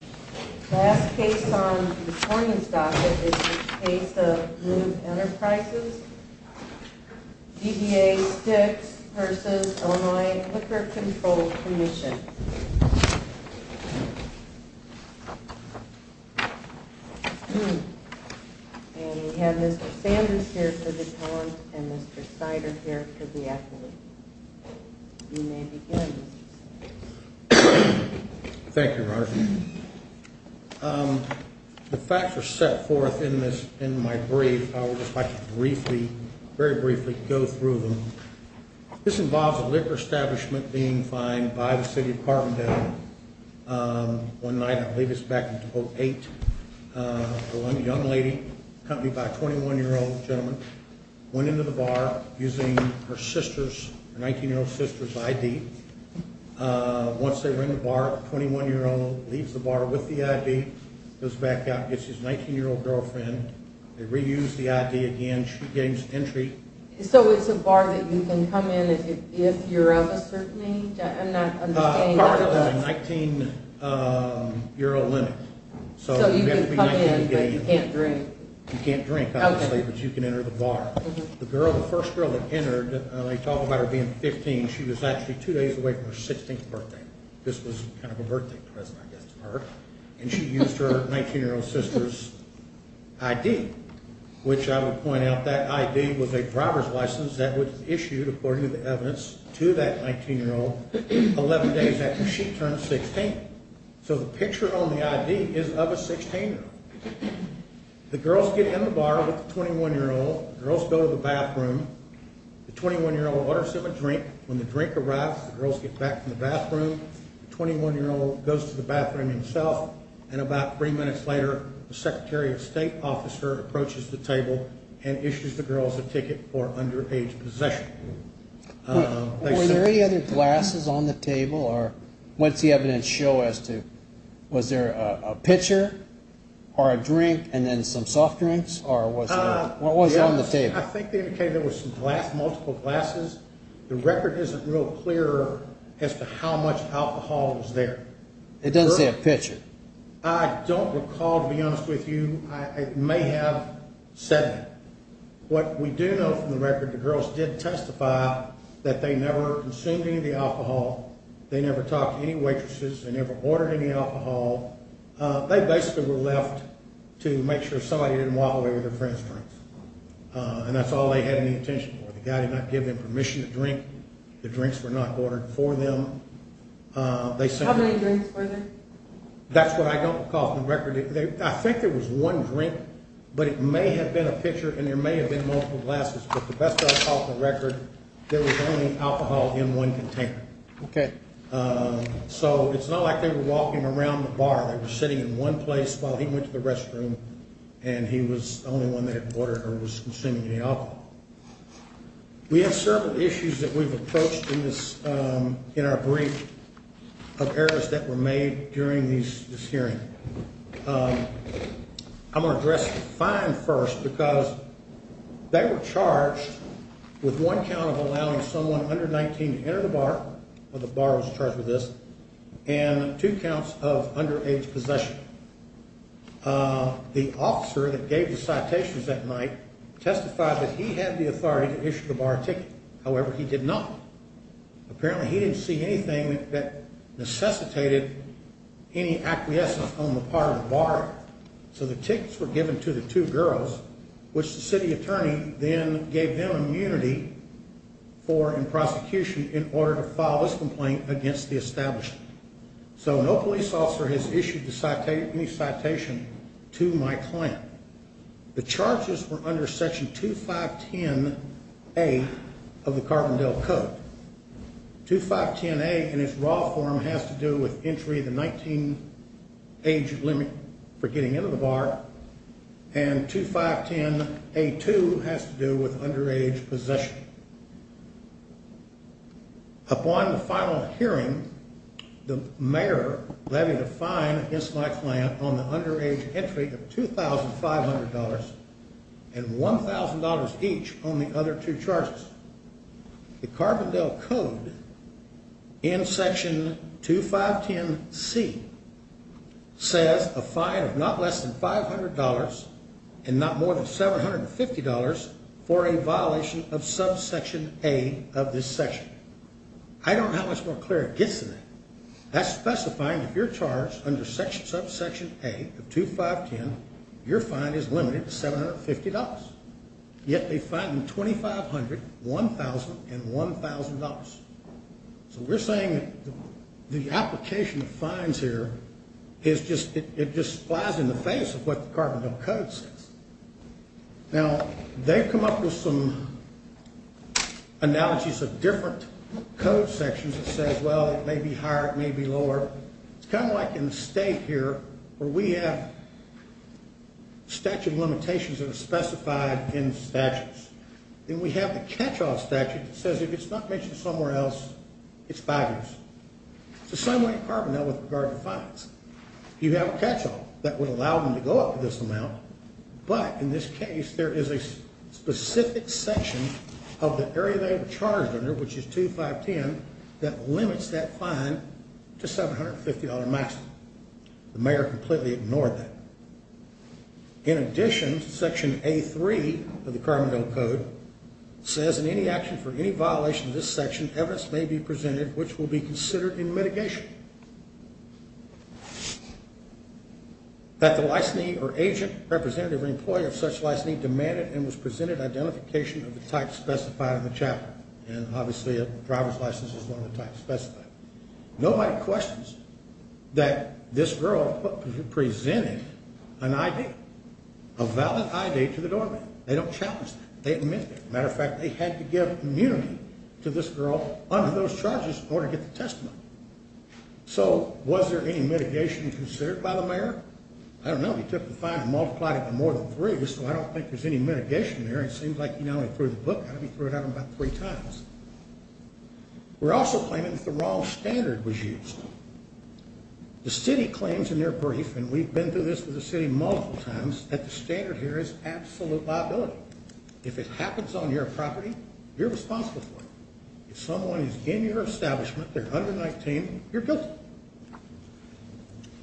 The last case on this morning's docket is the case of Knoob Enterprises v. Illinois Liquor Control Comm. And we have Mr. Sanders here for the defense and Mr. Snyder here for the acquittal. Thank you, Marjorie. The facts are set forth in my brief. I would just like to briefly, very briefly, go through them. This involves a liquor establishment being fined by the city of Carbondale. One night, I believe it's back in 2008, a young lady, accompanied by a 21-year-old gentleman, went into the bar using her 19-year-old sister's ID. Once they were in the bar, a 21-year-old leaves the bar with the ID, goes back out, gets his 19-year-old girlfriend, they reuse the ID again, she gains entry. So it's a bar that you can come in if you're of a certain age? I'm not understanding. Part of a 19-year-old limit. So you can come in, but you can't drink? You can't drink, obviously, but you can enter the bar. The girl, the first girl that entered, they talk about her being 15. She was actually two days away from her 16th birthday. This was kind of a birthday present, I guess, to her. And she used her 19-year-old sister's ID, which I would point out, that ID was a driver's license that was issued, according to the evidence, to that 19-year-old 11 days after she turned 16. So the picture on the ID is of a 16-year-old. The girls get in the bar with the 21-year-old. The girls go to the bathroom. The 21-year-old orders him a drink. When the drink arrives, the girls get back from the bathroom. The 21-year-old goes to the bathroom himself. And about three minutes later, the Secretary of State officer approaches the table and issues the girls a ticket for underage possession. Were there any other glasses on the table? What does the evidence show as to, was there a pitcher or a drink and then some soft drinks? Or what was on the table? I think they indicated there was some glass, multiple glasses. The record isn't real clear as to how much alcohol was there. It doesn't say a pitcher. I don't recall, to be honest with you. I may have said that. What we do know from the record, the girls did testify that they never consumed any of the alcohol. They never talked to any waitresses. They never ordered any alcohol. They basically were left to make sure somebody didn't walk away with their friends' drinks. And that's all they had any attention for. The guy did not give them permission to drink. The drinks were not ordered for them. How many drinks were there? That's what I don't recall from the record. I think there was one drink, but it may have been a pitcher, and there may have been multiple glasses. But the best I saw from the record, there was only alcohol in one container. Okay. So it's not like they were walking around the bar. They were sitting in one place while he went to the restroom, and he was the only one that had ordered or was consuming any alcohol. We have several issues that we've approached in our brief of errors that were made during this hearing. I'm going to address the fine first because they were charged with one count of allowing someone under 19 to enter the bar, or the bar was charged with this, and two counts of underage possession. The officer that gave the citations that night testified that he had the authority to issue the bar ticket. However, he did not. Apparently, he didn't see anything that necessitated any acquiescence on the part of the bar. So the tickets were given to the two girls, which the city attorney then gave them immunity for in prosecution in order to file this complaint against the establishment. So no police officer has issued any citation to my client. The charges were under Section 2510A of the Carbondale Code. 2510A in its raw form has to do with entry of the 19 age limit for getting into the bar, and 2510A2 has to do with underage possession. Upon the final hearing, the mayor levied a fine against my client on the underage entry of $2,500 and $1,000 each on the other two charges. The Carbondale Code in Section 2510C says a fine of not less than $500 and not more than $750 for a violation of Subsection A of this section. I don't know how much more clear it gets than that. That's specifying if you're charged under Subsection A of 2510, your fine is limited to $750. Yet they fine them $2,500, $1,000, and $1,000. So we're saying the application of fines here, it just flies in the face of what the Carbondale Code says. Now, they've come up with some analogies of different code sections that say, well, it may be higher, it may be lower. It's kind of like in the state here where we have statute limitations that are specified in statutes. Then we have the catch-all statute that says if it's not mentioned somewhere else, it's five years. It's the same way in Carbondale with regard to fines. You have a catch-all that would allow them to go up to this amount. But in this case, there is a specific section of the area they were charged under, which is 2510, that limits that fine to $750 maximum. The mayor completely ignored that. In addition, Section A3 of the Carbondale Code says in any action for any violation of this section, evidence may be presented which will be considered in mitigation. That the licensee or agent, representative, or employee of such licensee demanded and was presented identification of the type specified in the chapter. And obviously, a driver's license is one of the types specified. Nobody questions that this girl presented an ID, a valid ID, to the doorman. They don't challenge that. They admit that. As a matter of fact, they had to give immunity to this girl under those charges in order to get the testimony. So was there any mitigation considered by the mayor? I don't know. He took the fine and multiplied it by more than three, so I don't think there's any mitigation there. It seems like he not only threw the book at him, he threw it at him about three times. We're also claiming that the wrong standard was used. The city claims in their brief, and we've been through this with the city multiple times, that the standard here is absolute liability. If it happens on your property, you're responsible for it. If someone is in your establishment, they're under 19, you're guilty.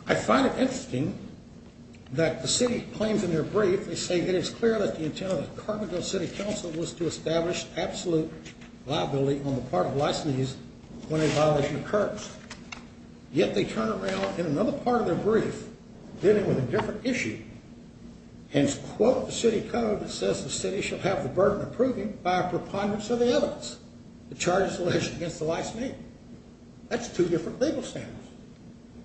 I find it interesting that the city claims in their brief, they say that it's clear that the intent of the Carbondale City Council was to establish absolute liability on the part of licensees when a violation occurs. Yet they turn around in another part of their brief dealing with a different issue and quote the city code that says the city shall have the burden of proving by a preponderance of the evidence. The charges alleged against the licensee. That's two different legal standards.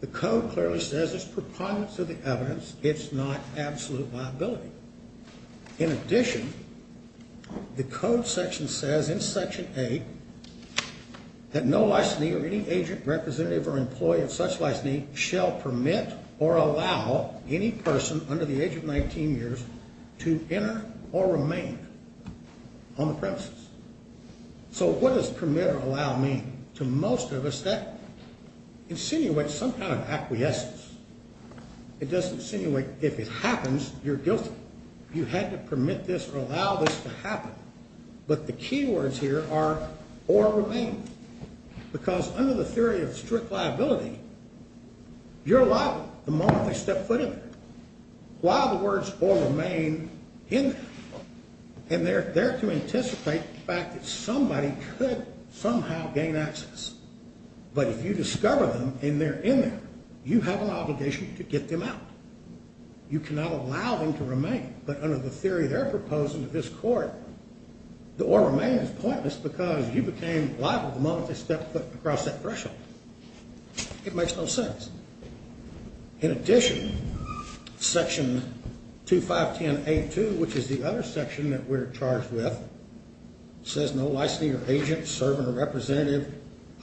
The code clearly says it's preponderance of the evidence. It's not absolute liability. In addition, the code section says in Section A that no licensee or any agent representative or employee of such licensee shall permit or allow any person under the age of 19 years to enter or remain on the premises. So what does permit or allow mean? To most of us, that insinuates some kind of acquiescence. It doesn't insinuate if it happens, you're guilty. You had to permit this or allow this to happen. But the key words here are or remain. Because under the theory of strict liability, you're liable the moment they step foot in there. While the words or remain in there. And they're there to anticipate the fact that somebody could somehow gain access. But if you discover them and they're in there, you have an obligation to get them out. You cannot allow them to remain. But under the theory they're proposing to this court, the or remain is pointless because you became liable the moment they stepped foot across that threshold. It makes no sense. In addition, section 2510A2, which is the other section that we're charged with, says no licensee or agent serving a representative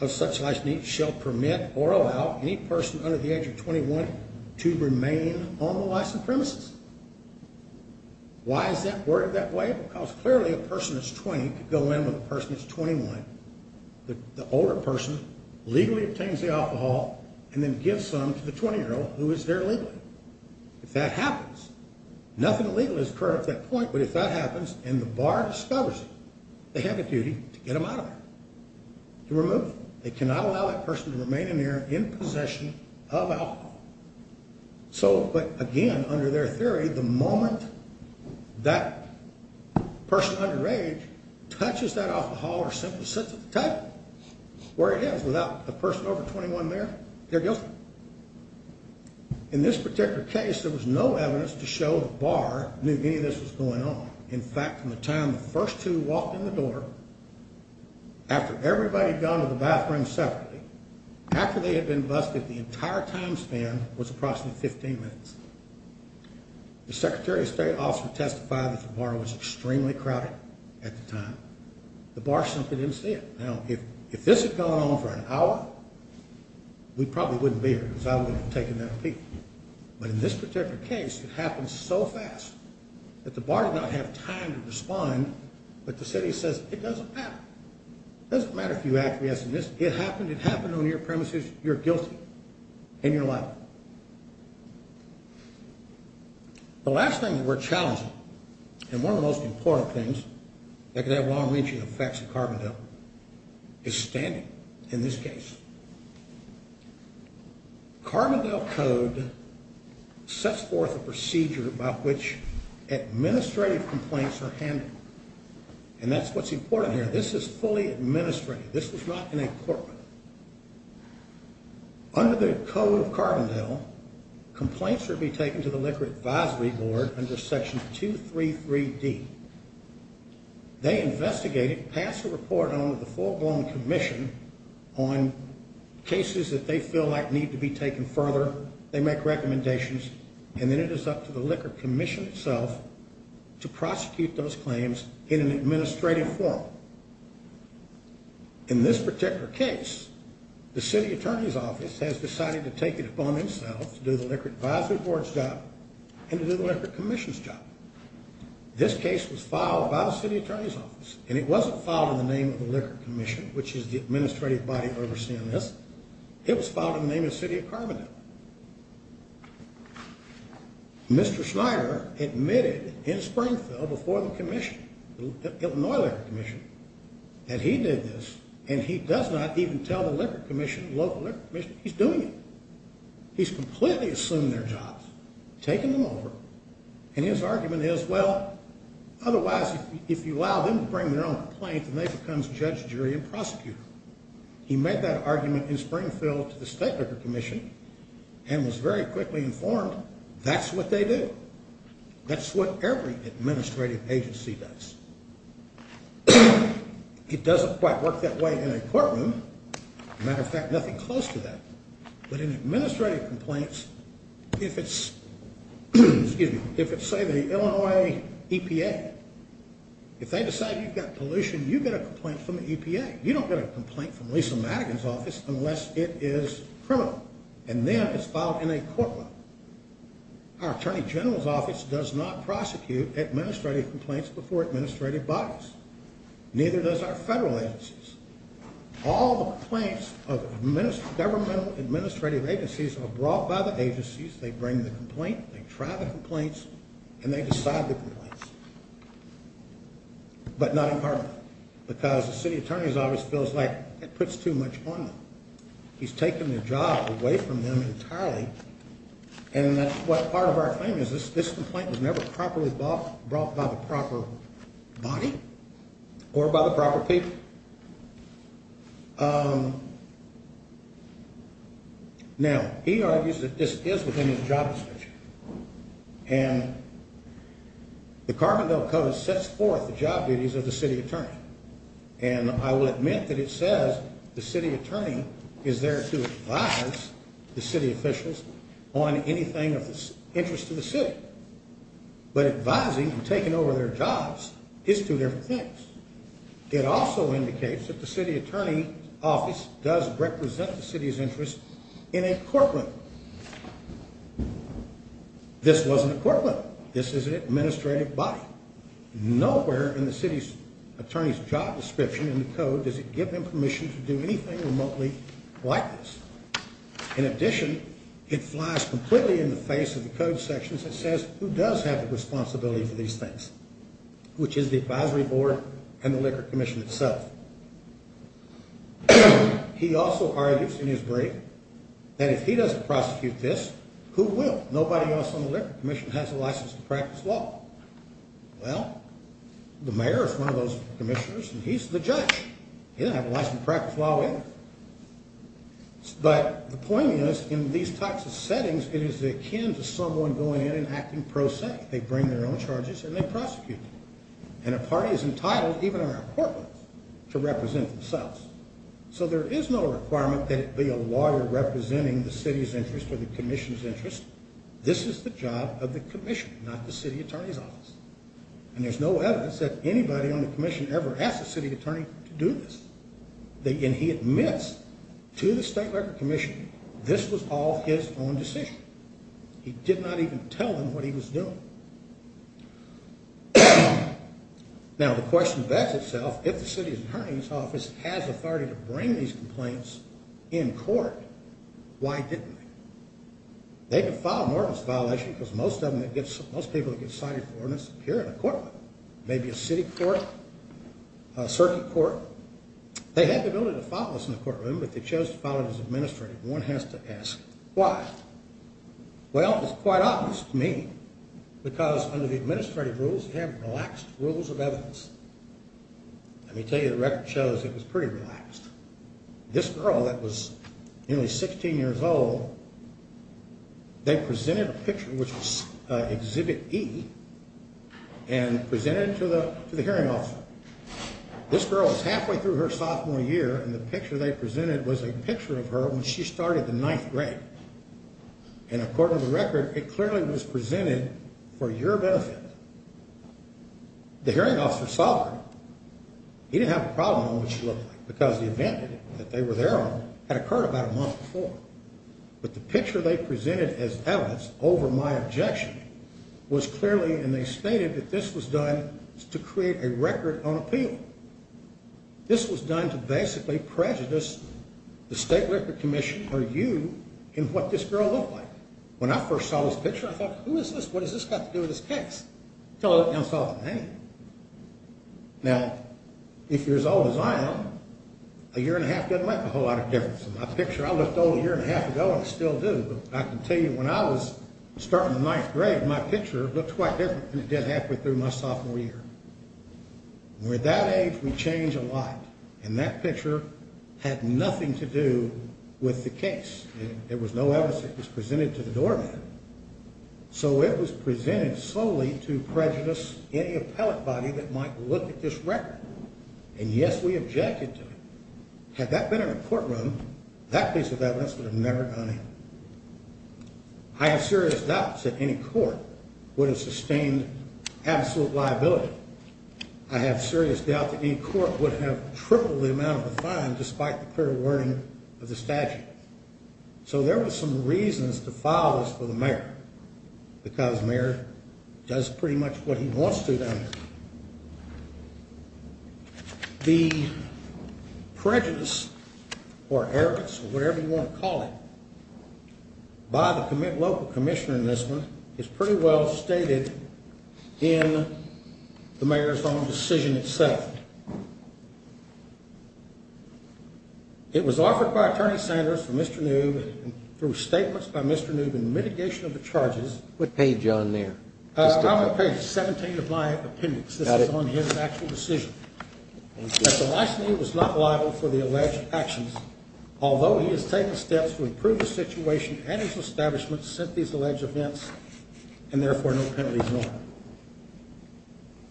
of such licensee shall permit or allow any person under the age of 21 to remain on the license premises. Why is that worded that way? Because clearly a person that's 20 could go in with a person that's 21. The older person legally obtains the alcohol and then gives some to the 20-year-old, who is there legally. If that happens, nothing illegal is occurring at that point. But if that happens and the bar discovers it, they have a duty to get them out of there, to remove them. They cannot allow that person to remain in there in possession of alcohol. So, again, under their theory, the moment that person underage touches that alcohol or simply sits at the table where he is without a person over 21 there, they're guilty. In this particular case, there was no evidence to show the bar knew any of this was going on. In fact, from the time the first two walked in the door, after everybody had gone to the bathroom separately, after they had been busted, the entire time span was approximately 15 minutes. The Secretary of State also testified that the bar was extremely crowded at the time. The bar simply didn't see it. Now, if this had gone on for an hour, we probably wouldn't be here because I wouldn't have taken that peek. But in this particular case, it happened so fast that the bar did not have time to respond. But the city says it doesn't matter. It doesn't matter if you act yes or yes. It happened. It happened on your premises. You're guilty. And you're liable. The last thing that we're challenging, and one of the most important things that could have long-reaching effects on Carbondale, is standing in this case. Carbondale Code sets forth a procedure by which administrative complaints are handled. And that's what's important here. This is fully administrative. This was not in a court. Under the Code of Carbondale, complaints would be taken to the Liquor Advisory Board under Section 233D. They investigate it, pass a report on to the full-blown commission on cases that they feel like need to be taken further. They make recommendations. And then it is up to the Liquor Commission itself to prosecute those claims in an administrative form. In this particular case, the city attorney's office has decided to take it upon themselves to do the Liquor Advisory Board's job and to do the Liquor Commission's job. This case was filed by the city attorney's office. And it wasn't filed in the name of the Liquor Commission, which is the administrative body overseeing this. It was filed in the name of the city of Carbondale. Mr. Schneider admitted in Springfield before the commission, the Illinois Liquor Commission, that he did this, and he does not even tell the local Liquor Commission he's doing it. He's completely assumed their jobs, taken them over. And his argument is, well, otherwise, if you allow them to bring their own complaint, then they become judge, jury, and prosecutor. He made that argument in Springfield to the State Liquor Commission and was very quickly informed that's what they do. That's what every administrative agency does. It doesn't quite work that way in a courtroom. As a matter of fact, nothing close to that. But in administrative complaints, if it's, excuse me, if it's, say, the Illinois EPA, if they decide you've got pollution, you get a complaint from the EPA. You don't get a complaint from Lisa Madigan's office unless it is criminal. And then it's filed in a courtroom. Our attorney general's office does not prosecute administrative complaints before administrative bodies. Neither does our federal agencies. All the complaints of governmental administrative agencies are brought by the agencies. They bring the complaint. They try the complaints, and they decide the complaints, but not in court, because the city attorney's office feels like it puts too much on them. He's taken the job away from them entirely. And that's what part of our claim is this complaint was never properly brought by the proper body or by the proper people. Now, he argues that this is within his job description. And the Carbondale Code sets forth the job duties of the city attorney. And I will admit that it says the city attorney is there to advise the city officials on anything of interest to the city. But advising and taking over their jobs is two different things. It also indicates that the city attorney's office does represent the city's interest in a courtroom. This wasn't a courtroom. This is an administrative body. Nowhere in the city attorney's job description in the Code does it give them permission to do anything remotely like this. In addition, it flies completely in the face of the Code sections and says who does have the responsibility for these things, which is the advisory board and the Liquor Commission itself. He also argues in his brief that if he doesn't prosecute this, who will? Nobody else on the Liquor Commission has a license to practice law. Well, the mayor is one of those commissioners, and he's the judge. He doesn't have a license to practice law either. But the point is, in these types of settings, it is akin to someone going in and acting pro se. They bring their own charges, and they prosecute them. And a party is entitled, even in our courtrooms, to represent themselves. So there is no requirement that it be a lawyer representing the city's interest or the commission's interest. This is the job of the commission, not the city attorney's office. And there's no evidence that anybody on the commission ever asked the city attorney to do this. And he admits to the State Record Commission this was all his own decision. He did not even tell them what he was doing. Now, the question begs itself, if the city attorney's office has authority to bring these complaints in court, why didn't they? They could file an ordinance violation, because most people that get cited for an ordinance appear in a courtroom. Maybe a city court, a circuit court. They had the ability to file this in a courtroom, but they chose to file it as administrative. One has to ask, why? Well, it's quite obvious to me, because under the administrative rules, you have relaxed rules of evidence. Let me tell you, the record shows it was pretty relaxed. This girl that was nearly 16 years old, they presented a picture, which was Exhibit E, and presented it to the hearing officer. This girl was halfway through her sophomore year, and the picture they presented was a picture of her when she started the ninth grade. And according to the record, it clearly was presented for your benefit. The hearing officer saw her. He didn't have a problem with what she looked like, because the event that they were there on had occurred about a month before. But the picture they presented as evidence over my objection was clearly, and they stated that this was done to create a record on appeal. This was done to basically prejudice the State Record Commission or you in what this girl looked like. When I first saw this picture, I thought, who is this? What has this got to do with this case? Until I saw the name. Now, if you're as old as I am, a year and a half doesn't make a whole lot of difference. In my picture, I looked old a year and a half ago, and I still do. But I can tell you, when I was starting the ninth grade, my picture looked quite different than it did halfway through my sophomore year. And at that age, we change a lot. And that picture had nothing to do with the case. There was no evidence that it was presented to the doorman. So it was presented solely to prejudice any appellate body that might look at this record. And, yes, we objected to it. Had that been in a courtroom, that piece of evidence would have never gone in. I have serious doubts that any court would have sustained absolute liability. I have serious doubt that any court would have tripled the amount of the fine despite the clear warning of the statute. So there were some reasons to file this for the mayor because the mayor does pretty much what he wants to down here. The prejudice or arrogance or whatever you want to call it by the local commissioner in this one is pretty well stated in the mayor's own decision itself. It was offered by Attorney Sanders for Mr. Noob through statements by Mr. Noob in mitigation of the charges. What page are you on there? I'm on page 17 of my appendix. Got it. This is on his actual decision. Thank you. That the licensee was not liable for the alleged actions, although he has taken steps to improve the situation and his establishment since these alleged events and, therefore, no penalty is warranted.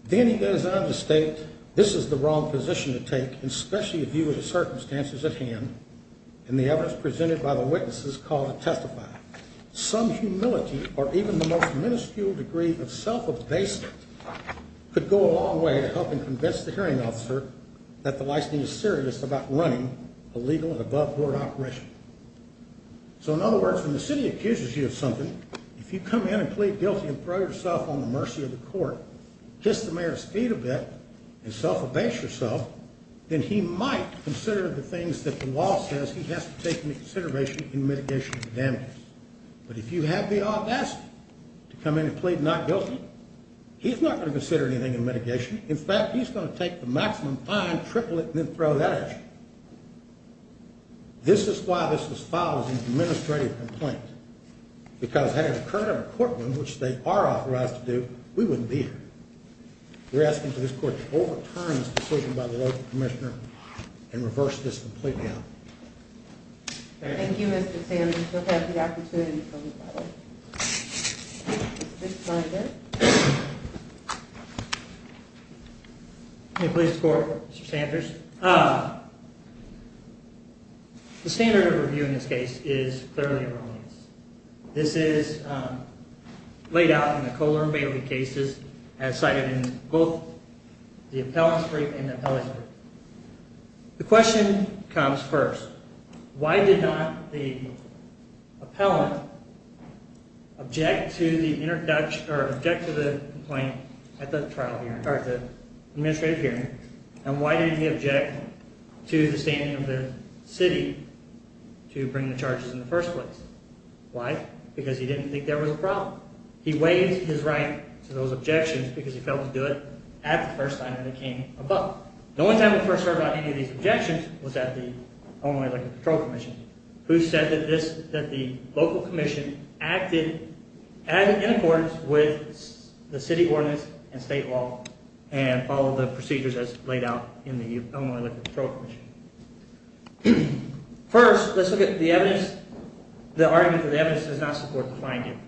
Then he goes on to state, this is the wrong position to take, especially if you have the circumstances at hand, and the evidence presented by the witness is called to testify. Some humility or even the most minuscule degree of self-abasement could go a long way in helping convince the hearing officer that the licensee is serious about running a legal and above-board operation. So, in other words, when the city accuses you of something, if you come in and plead guilty and throw yourself on the mercy of the court, kiss the mayor's feet a bit, and self-abase yourself, then he might consider the things that the law says he has to take into consideration in mitigation of the damages. But if you have the audacity to come in and plead not guilty, he's not going to consider anything in mitigation. In fact, he's going to take the maximum fine, triple it, and then throw that at you. This is why this was filed as an administrative complaint, because had it occurred in a courtroom, which they are authorized to do, we wouldn't be here. We're asking for this court to overturn this decision by the local commissioner and reverse this complaint down. Thank you, Mr. Sanders. We'll take the opportunity to close the file. Mr. Sanders? May it please the court, Mr. Sanders? The standard of review in this case is clearly erroneous. This is laid out in the Kohler and Bailey cases as cited in both the appellant's brief and the appellant's brief. The question comes first. Why did not the appellant object to the complaint at the administrative hearing, and why did he object to the standing of the city to bring the charges in the first place? Why? Because he didn't think there was a problem. He weighs his right to those objections because he felt it was good at the first time it came about. The only time we first heard about any of these objections was at the Illinois Electric Patrol Commission, who said that the local commission acted in accordance with the city ordinance and state law and followed the procedures as laid out in the Illinois Electric Patrol Commission. First, let's look at the argument that the evidence does not support the finding,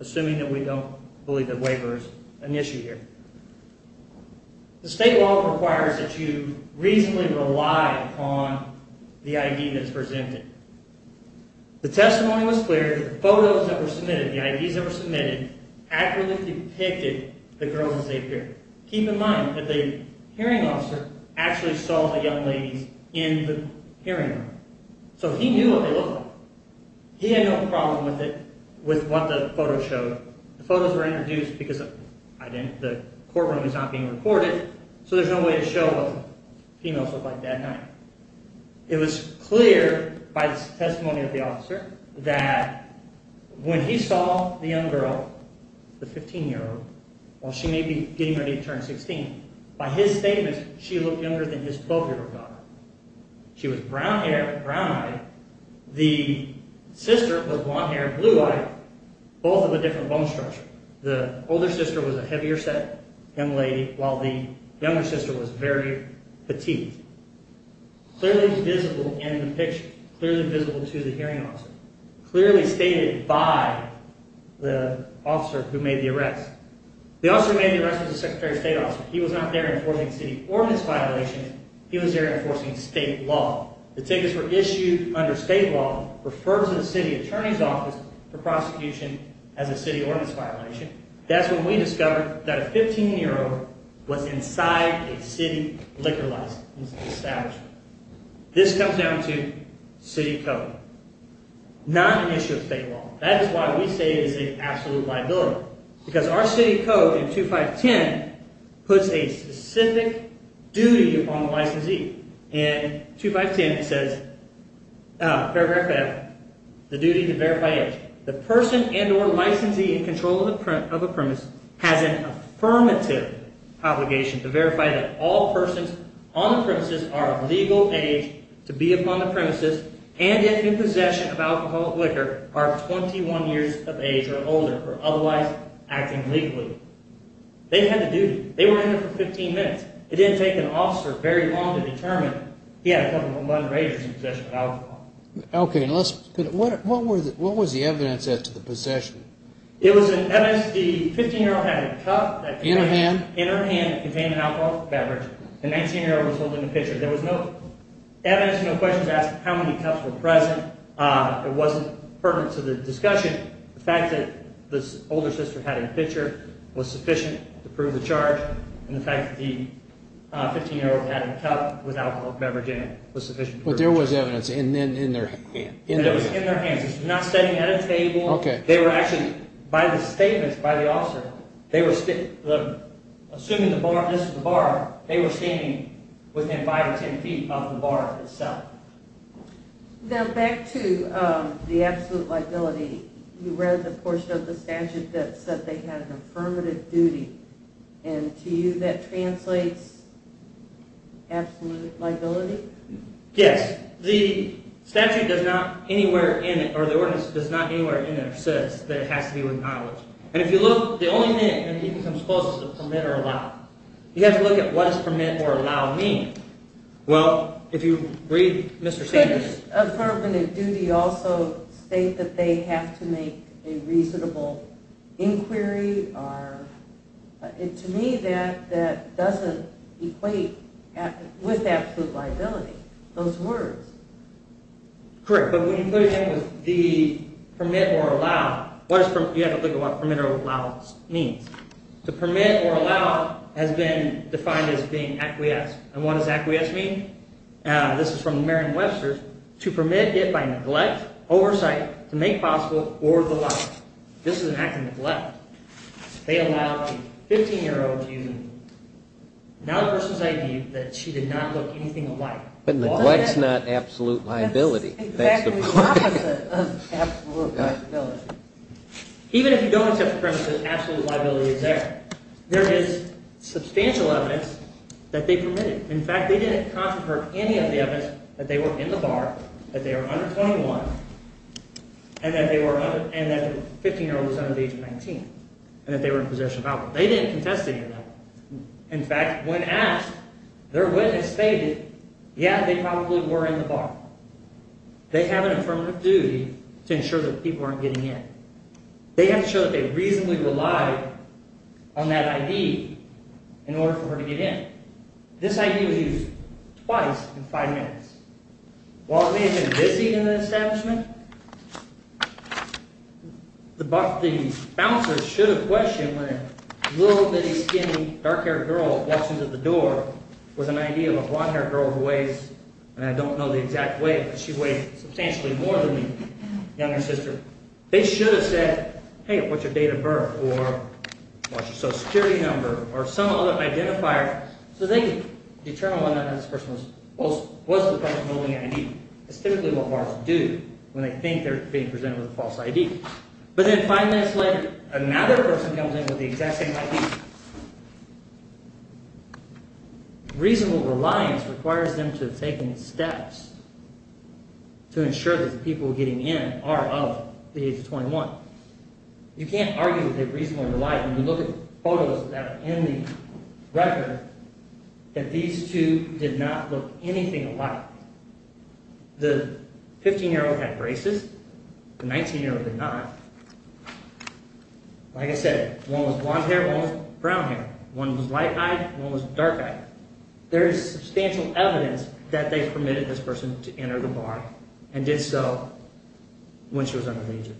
assuming that we don't believe the waiver is an issue here. The state law requires that you reasonably rely upon the ID that is presented. The testimony was clear that the photos that were submitted, the IDs that were submitted, accurately depicted the girls as they appeared. Keep in mind that the hearing officer actually saw the young ladies in the hearing room, so he knew what they looked like. He had no problem with it, with what the photos showed. The photos were introduced because the courtroom was not being recorded, so there's no way to show what the females looked like that night. It was clear by the testimony of the officer that when he saw the young girl, the 15-year-old, while she may be getting ready to turn 16, by his statements she looked younger than his 12-year-old daughter. She was brown-haired, brown-eyed. The sister was blonde-haired, blue-eyed, both of a different bone structure. The older sister was a heavier-set young lady, while the younger sister was very petite. Clearly visible in the picture, clearly visible to the hearing officer, clearly stated by the officer who made the arrest. The officer who made the arrest was the Secretary of State officer. He was not there enforcing city ordinance violations, he was there enforcing state law. The tickets were issued under state law, referred to the city attorney's office for prosecution as a city ordinance violation. That's when we discovered that a 15-year-old was inside a city liquor license establishment. This comes down to city code, not an issue of state law. That is why we say it is an absolute liability, because our city code in 2510 puts a specific duty upon the licensee. In 2510 it says, paragraph 5, the duty to verify age. They had the duty. They were in there for 15 minutes. It didn't take an officer very long to determine he had a cup of a modern-day possession of alcohol. What was the evidence set to the possession? The 15-year-old had a cup in her hand that contained an alcohol beverage. The 19-year-old was holding the pitcher. There was no evidence, no question to ask how many cups were present. It wasn't pertinent to the discussion. The fact that the older sister had a pitcher was sufficient to prove the charge. And the fact that the 15-year-old had a cup with alcohol beverage in it was sufficient to prove the charge. But there was evidence in their hands. It was not standing at a table. Assuming this was the bar, they were standing within 5 or 10 feet of the bar itself. Back to the absolute liability, you read the portion of the statute that said they had an affirmative duty. To you, that translates absolute liability? Yes. The statute does not anywhere in it, or the ordinance does not anywhere in there, says that it has to do with knowledge. And if you look, the only thing that comes close is the permit or allow. You have to look at what does permit or allow mean. Could this affirmative duty also state that they have to make a reasonable inquiry? To me, that doesn't equate with absolute liability, those words. Correct, but when you put it in with the permit or allow, you have to look at what permit or allow means. The permit or allow has been defined as being acquiesced, and what does acquiesced mean? This is from Merriam-Webster's, to permit it by neglect, oversight, to make possible, or the law. This is an act of neglect. They allowed a 15-year-old to use a, now the person's ID, that she did not look anything alike. But neglect's not absolute liability. That's exactly the opposite of absolute liability. Even if you don't accept the premise that absolute liability is there, there is substantial evidence that they permitted. In fact, they didn't confer any of the evidence that they were in the bar, that they were under 21, and that the 15-year-old was under the age of 19, and that they were in possession of alcohol. They didn't contest any of that. In fact, when asked, their witness stated, yeah, they probably were in the bar. They have an affirmative duty to ensure that people aren't getting in. They have to show that they reasonably relied on that ID in order for her to get in. This ID was used twice in five minutes. While they had been busy in the establishment, the bouncers should have questioned when a little bitty skinny dark-haired girl walks into the door with an ID of a blonde-haired girl who weighs, and I don't know the exact weight, but she weighs substantially more than the younger sister. They should have said, hey, what's your date of birth, or what's your social security number, or some other identifier, so they could determine whether or not this person was the person holding the ID. That's typically what bars do when they think they're being presented with a false ID. But then five minutes later, another person comes in with the exact same ID. Reasonable reliance requires them to have taken steps to ensure that the people getting in are of the age of 21. You can't argue that they reasonably relied. When you look at photos that are in the record, that these two did not look anything alike. The 15-year-old had braces, the 19-year-old did not. Like I said, one was blonde hair, one was brown hair. One was light-eyed, one was dark-eyed. There is substantial evidence that they permitted this person to enter the bar and did so when she was under the age of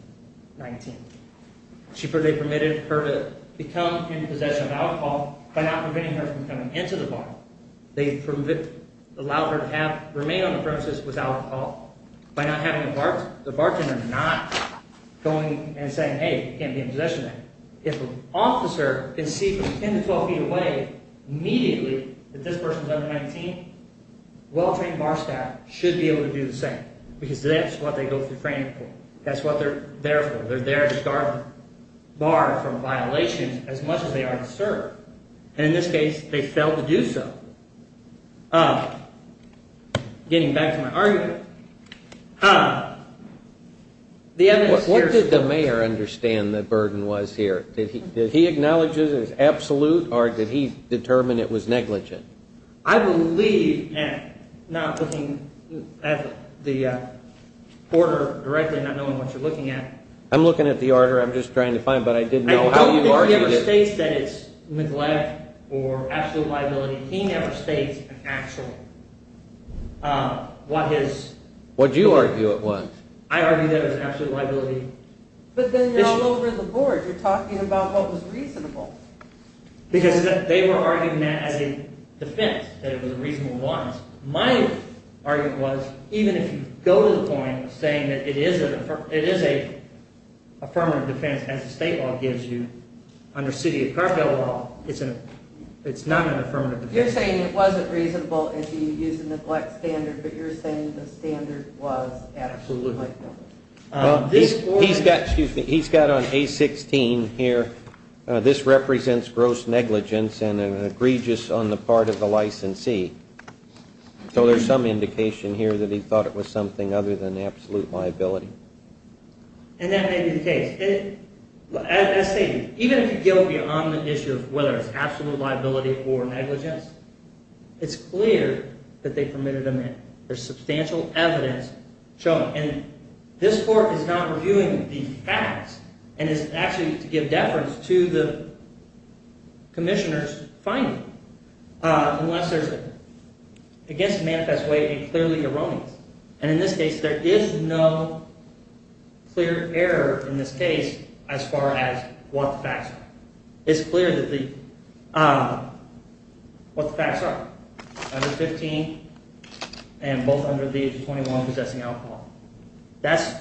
19. They permitted her to become in possession of alcohol by not preventing her from coming into the bar. They allowed her to remain on the premises without alcohol. By not having the bar, the bartender not going and saying, hey, you can't be in possession of that. If an officer can see from 10 to 12 feet away immediately that this person is under 19, well-trained bar staff should be able to do the same. Because that's what they go through training for. That's what they're there for. They're there to guard the bar from violations as much as they are to serve. And in this case, they failed to do so. Getting back to my argument. What did the mayor understand the burden was here? Did he acknowledge it as absolute or did he determine it was negligent? I believe, not looking at the order directly, not knowing what you're looking at. I'm looking at the order. I'm just trying to find, but I didn't know how you argued it. I don't think he ever states that it's neglect or absolute liability. He never states an actual – what his – What you argue it was. I argue that it was absolute liability. But then you're all over the board. You're talking about what was reasonable. Because they were arguing that as a defense, that it was a reasonable violence. My argument was, even if you go to the point of saying that it is an affirmative defense, as the state law gives you, under city or cartel law, it's not an affirmative defense. You're saying it wasn't reasonable if you used a neglect standard, but you're saying the standard was absolute liability. He's got on A-16 here, this represents gross negligence and an egregious on the part of the licensee. So there's some indication here that he thought it was something other than absolute liability. And that may be the case. As I say, even if you go beyond the issue of whether it's absolute liability or negligence, it's clear that they permitted a man. There's substantial evidence showing. And this court is not reviewing the facts. And it's actually to give deference to the commissioner's finding. Unless there's against a manifest way a clearly erroneous. And in this case, there is no clear error in this case as far as what the facts are. It's clear what the facts are. Under 15 and both under the 21 possessing alcohol. That's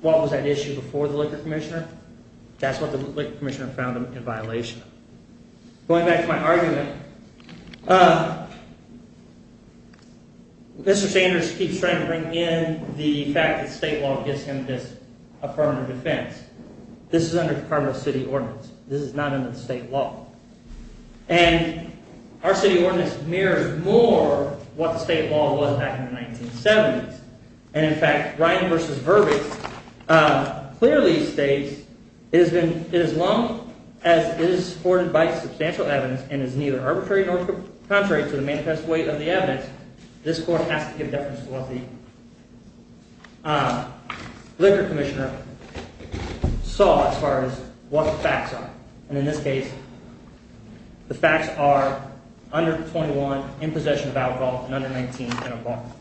what was at issue before the liquor commissioner. That's what the liquor commissioner found in violation. Going back to my argument, Mr. Sanders keeps trying to bring in the fact that state law gives him this affirmative defense. This is under cartel city ordinance. This is not under the state law. And our city ordinance mirrors more what the state law was back in the 1970s. And in fact, Ryan versus Burbank clearly states it has been as long as it is supported by substantial evidence and is neither arbitrary nor contrary to the manifest way of the evidence. This court has to give deference to what the liquor commissioner saw as far as what the facts are. And in this case, the facts are under 21 in possession of alcohol and under 19 in a bond.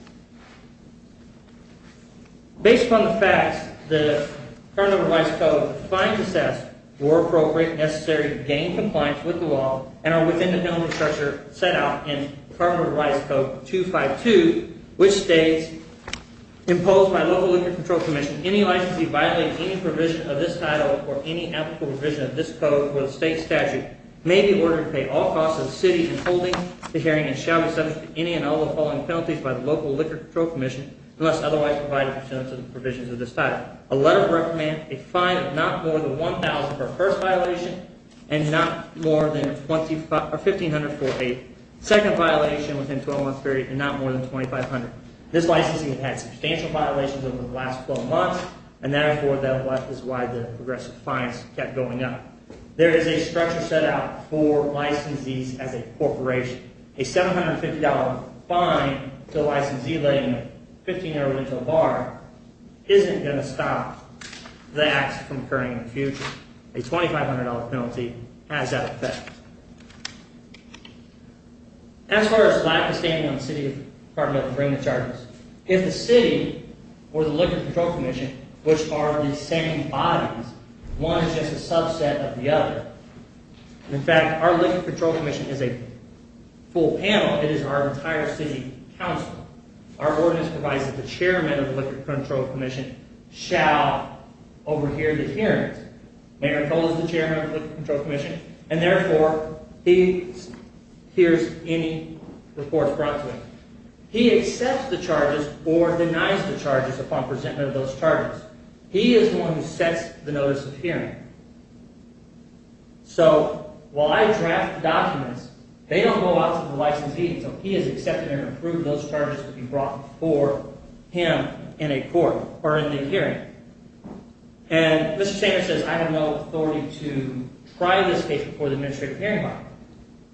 Based on the facts, the current revised code finds assessed were appropriate necessary to gain compliance with the law and are within the building structure set out in the current revised code 252, which states imposed by local liquor control commission. Any licensee violating any provision of this title or any application of this code with state statute may be ordered to pay all costs of the city in holding the hearing and shall be subject to any and all the following penalties by the local liquor commission unless otherwise provided in terms of the provisions of this title. A letter of recommend a fine of not more than $1,000 for first violation and not more than $1,500 for a second violation within 12 months period and not more than $2,500. This licensee has had substantial violations over the last 12 months and therefore that is why the progressive fines kept going up. There is a structure set out for licensees as a corporation. A $750 fine to a licensee letting a 15-year-old drink a bar isn't going to stop that from occurring in the future. A $2,500 penalty has that effect. As far as lack of standing on the City Department of the brain of charges, if the City or the Liquor Control Commission, which are the same bodies, one is just a subset of the other. In fact, our Liquor Control Commission is a full panel. It is our entire city council. Our ordinance provides that the chairman of the Liquor Control Commission shall overhear the hearings. Mayor Cole is the chairman of the Liquor Control Commission and therefore he hears any reports brought to him. He accepts the charges or denies the charges upon presentment of those charges. He is the one who sets the notice of hearing. So while I draft documents, they don't go out to the licensee until he has accepted and approved those charges to be brought for him in a court or in the hearing. Mr. Sanger says I have no authority to try this case before the Administrative Hearing Body.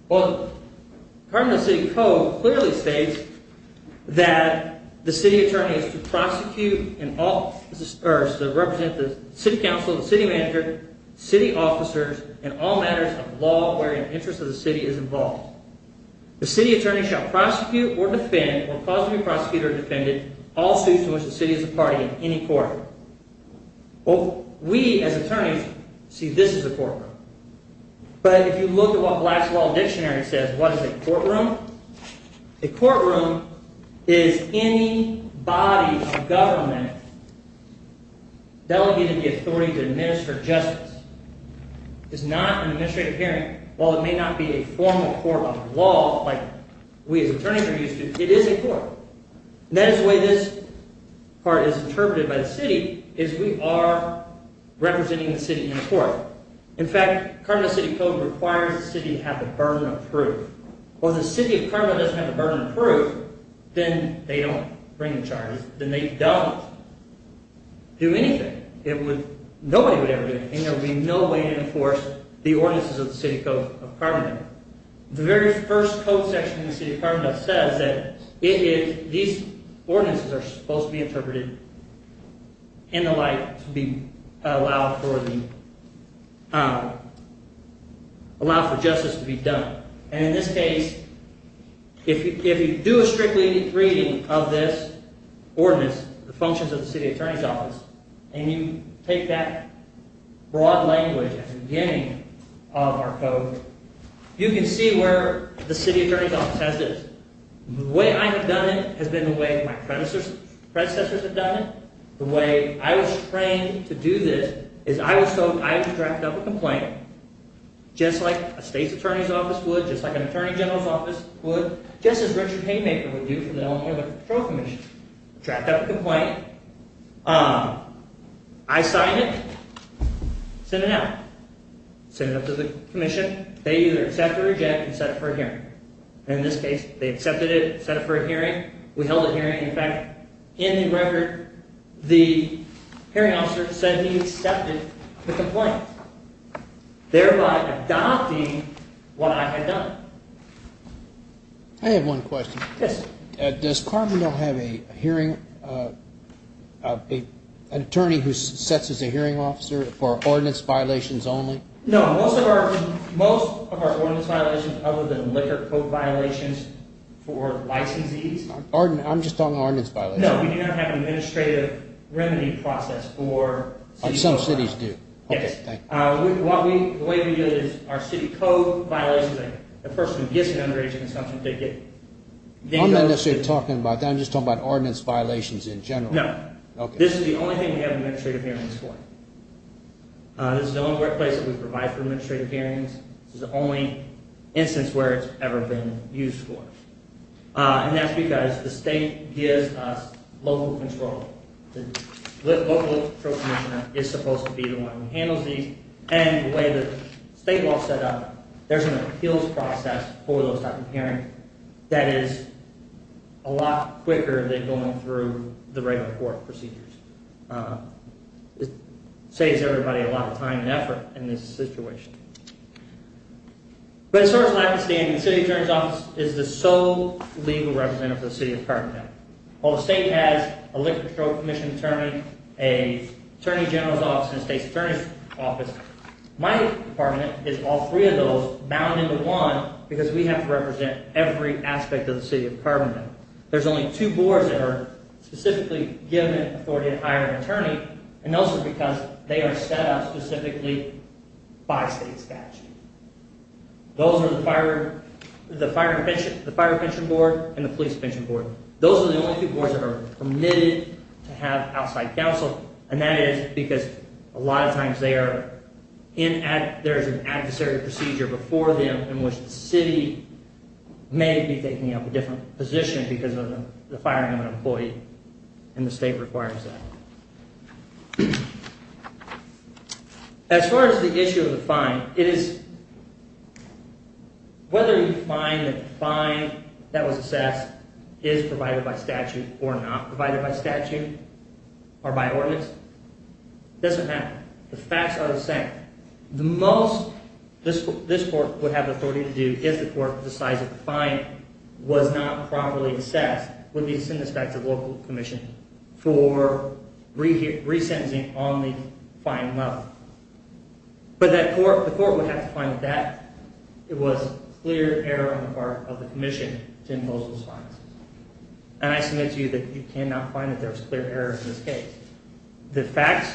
Well, the Cardinal City Code clearly states that the city attorney is to prosecute and represent the city council, the city manager, city officers, and all matters of law where an interest of the city is involved. The city attorney shall prosecute or defend or possibly prosecute or defend all suits to which the city is a party in any court. We as attorneys see this as a courtroom. But if you look at what Black's Law Dictionary says, what is a courtroom? A courtroom is any body of government delegated the authority to administer justice. It is not an administrative hearing. While it may not be a formal court of law like we as attorneys are used to, it is a court. And that is the way this part is interpreted by the city is we are representing the city in a court. In fact, the Cardinal City Code requires the city to have the burden of proof. Well, if the city of Cardinal doesn't have the burden of proof, then they don't bring the charges. Then they don't do anything. Nobody would ever do anything. There would be no way to enforce the ordinances of the City Code of Cardinal. The very first code section in the City of Cardinal says that these ordinances are supposed to be interpreted in the light to allow for justice to be done. And in this case, if you do a strict reading of this ordinance, the functions of the city attorney's office, and you take that broad language at the beginning of our code, you can see where the city attorney's office has this. The way I have done it has been the way my predecessors have done it. The way I was trained to do this is I was told I had to draft up a complaint, just like a state's attorney's office would, just like an attorney general's office would, just as Richard Haymaker would do for the Illinois Veterans Patrol Commission. Draft up a complaint. I signed it. Send it out. Send it up to the commission. They either accept or reject and set it for a hearing. And in this case, they accepted it, set it for a hearing. We held a hearing. And, in fact, in the record, the hearing officer said he accepted the complaint, thereby adopting what I had done. I have one question. Yes. Does Cardinal have an attorney who sets as a hearing officer for ordinance violations only? No. Most of our ordinance violations other than liquor code violations for licensees. I'm just talking about ordinance violations. No, we do not have an administrative remedy process for city code violations. Some cities do. Yes. Okay, thank you. The way we do it is our city code violations, the person who gets an underage consumption ticket. I'm not necessarily talking about that. I'm just talking about ordinance violations in general. No. Okay. This is the only thing we have administrative hearings for. This is the only workplace that we provide for administrative hearings. This is the only instance where it's ever been used for. And that's because the state gives us local control. The local control commissioner is supposed to be the one who handles these. And the way the state law is set up, there's an appeals process for those type of hearings that is a lot quicker than going through the regular court procedures. It saves everybody a lot of time and effort in this situation. But as far as lack of standing, the city attorney's office is the sole legal representative of the city of Carbondale. While the state has a liquor control commission attorney, an attorney general's office, and a state's attorney's office, my department is all three of those bound into one because we have to represent every aspect of the city of Carbondale. There's only two boards that are specifically given authority to hire an attorney. And those are because they are set up specifically by state statute. Those are the fire prevention board and the police prevention board. Those are the only two boards that are permitted to have outside counsel. And that is because a lot of times there's an adversary procedure before them in which the city may be taking up a different position because of the firing of an employee. And the state requires that. As far as the issue of the fine, whether you find that the fine that was assessed is provided by statute or not provided by statute or by ordinance doesn't matter. The facts are the same. The most this court would have authority to do if the court decides that the fine was not properly assessed would be to send this back to the local commission for resentencing on the fine level. But the court would have to find that it was clear error on the part of the commission to impose those fines. And I submit to you that you cannot find that there was clear error in this case. The facts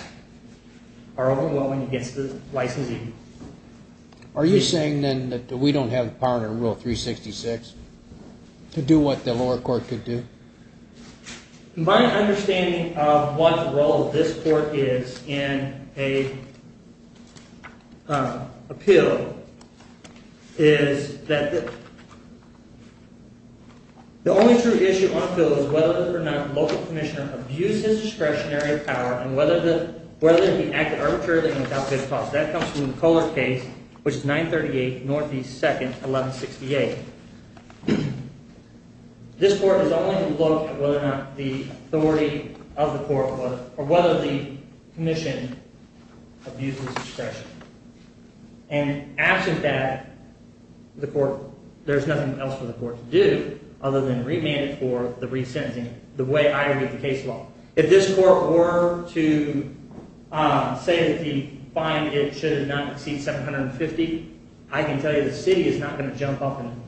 are overwhelming against the licensing. Are you saying then that we don't have the power under Rule 366 to do what the lower court could do? My understanding of what the role of this court is in an appeal is that the only true issue on appeal is whether or not the local commissioner abused his discretionary power and whether or not he acted arbitrarily and without good cause. That comes from the Kohler case, which is 938 Northeast 2nd, 1168. This court is only to look at whether or not the authority of the court was – or whether the commission abused his discretion. And absent that, the court – there's nothing else for the court to do other than remand it for the resentencing the way I read the case law. If this court were to say that the fine, it should not exceed $750, I can tell you the city is not going to jump up and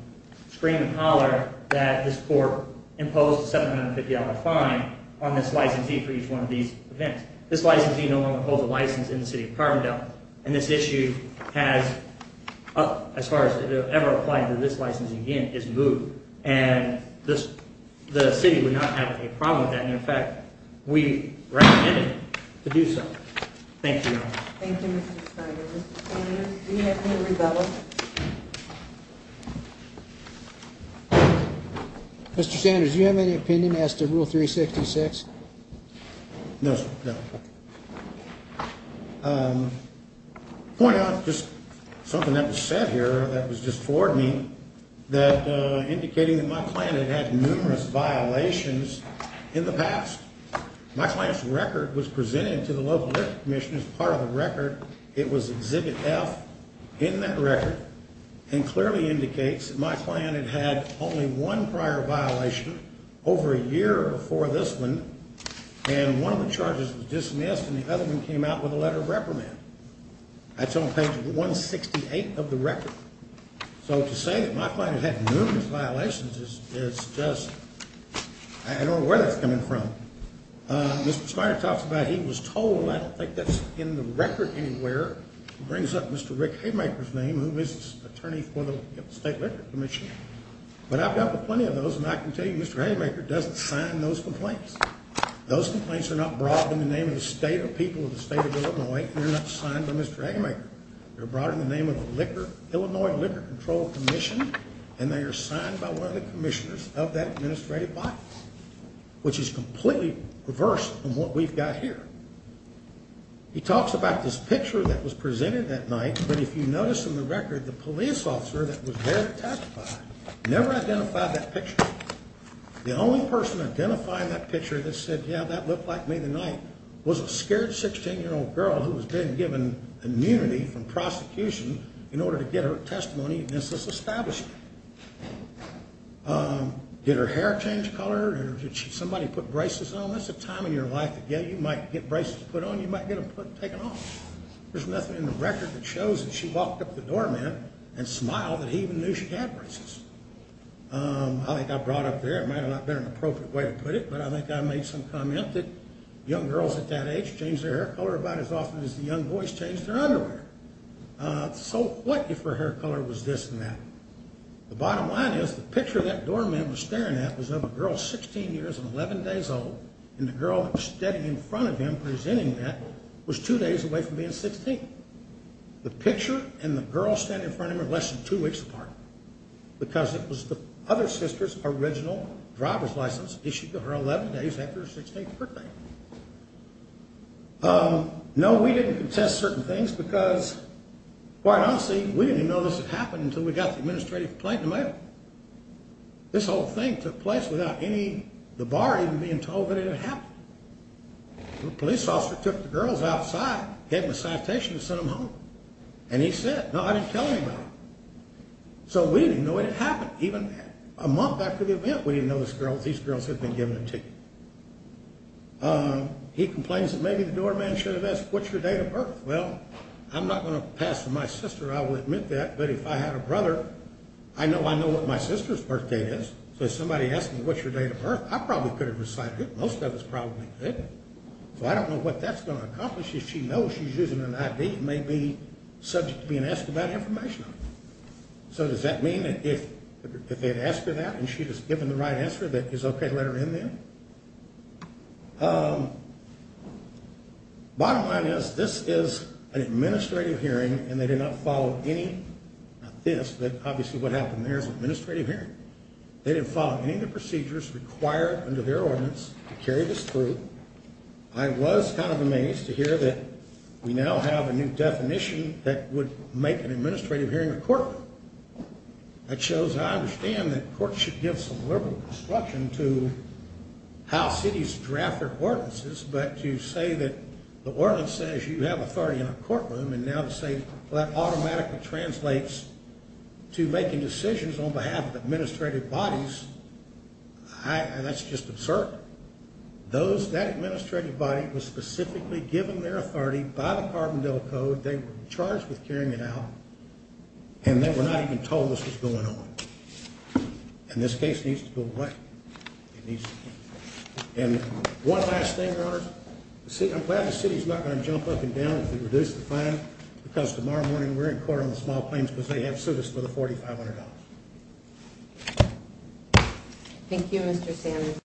scream and holler that this court imposed a $750 fine on this licensee for each one of these events. This licensee no longer holds a license in the city of Carbondale. And this issue has – as far as it will ever apply to this license again – is moved. And the city would not have a problem with that. And in fact, we recommend it to do so. Thank you, Your Honor. Thank you, Mr. Snyder. Mr. Sanders, do you have any rebuttal? Mr. Sanders, do you have any opinion as to Rule 366? No, sir. Point out just something that was said here that was just forwarded to me that – indicating that my client had had numerous violations in the past. My client's record was presented to the local district commission as part of the record. It was Exhibit F in that record and clearly indicates that my client had had only one prior violation over a year before this one. And one of the charges was dismissed and the other one came out with a letter of reprimand. That's on page 168 of the record. So to say that my client had had numerous violations is just – I don't know where that's coming from. Mr. Snyder talks about he was told – I don't think that's in the record anywhere. It brings up Mr. Rick Haymaker's name, who is the attorney for the State Liquor Commission. But I've got plenty of those and I can tell you Mr. Haymaker doesn't sign those complaints. Those complaints are not brought in the name of the state or people of the state of Illinois. They're not signed by Mr. Haymaker. They're brought in the name of the Illinois Liquor Control Commission and they are signed by one of the commissioners of that administrative body, which is completely reversed from what we've got here. He talks about this picture that was presented that night. But if you notice in the record, the police officer that was there to testify never identified that picture. The only person identifying that picture that said, yeah, that looked like me the night, was a scared 16-year-old girl who has been given immunity from prosecution in order to get her testimony against this establishment. Did her hair change color or did somebody put braces on her? Now, that's a time in your life that, yeah, you might get braces put on, you might get them taken off. There's nothing in the record that shows that she walked up to the doorman and smiled that he even knew she had braces. I think I brought up there, it might not have been an appropriate way to put it, but I think I made some comment that young girls at that age change their hair color about as often as the young boys change their underwear. So what, if her hair color was this and that? The bottom line is the picture that doorman was staring at was of a girl 16 years and 11 days old, and the girl standing in front of him presenting that was two days away from being 16. The picture and the girl standing in front of him were less than two weeks apart because it was the other sister's original driver's license issued to her 11 days after her 16th birthday. No, we didn't contest certain things because, quite honestly, we didn't even know this had happened until we got the administrative complaint in the mail. This whole thing took place without the bar even being told that it had happened. The police officer took the girls outside, gave them a citation and sent them home. And he said, no, I didn't tell anybody. So we didn't even know it had happened. Even a month after the event, we didn't know these girls had been given a ticket. He complains that maybe the doorman should have asked, what's your date of birth? Well, I'm not going to pass to my sister. I will admit that. But if I had a brother, I know I know what my sister's birthday is. So if somebody asked me, what's your date of birth? I probably could have recited it. Most of us probably didn't. So I don't know what that's going to accomplish. She knows she's using an ID and may be subject to being asked about information on it. So does that mean that if they had asked her that and she had given the right answer, that it's okay to let her in there? Bottom line is, this is an administrative hearing and they did not follow any of this. Obviously, what happened there is an administrative hearing. They didn't follow any of the procedures required under their ordinance to carry this through. I was kind of amazed to hear that we now have a new definition that would make an administrative hearing a courtroom. That shows I understand that courts should give some liberal instruction to how cities draft their ordinances, but to say that the ordinance says you have authority in a courtroom and now to say that automatically translates to making decisions on behalf of administrative bodies, that's just absurd. That administrative body was specifically given their authority by the Carbondale Code. They were charged with carrying it out and they were not even told this was going on. And this case needs to go away. One last thing, Your Honors. I'm glad the city's not going to jump up and down if we reduce the fine because tomorrow morning we're in court on the small claims because they have sued us for the $4,500. Thank you, Mr. Sanders.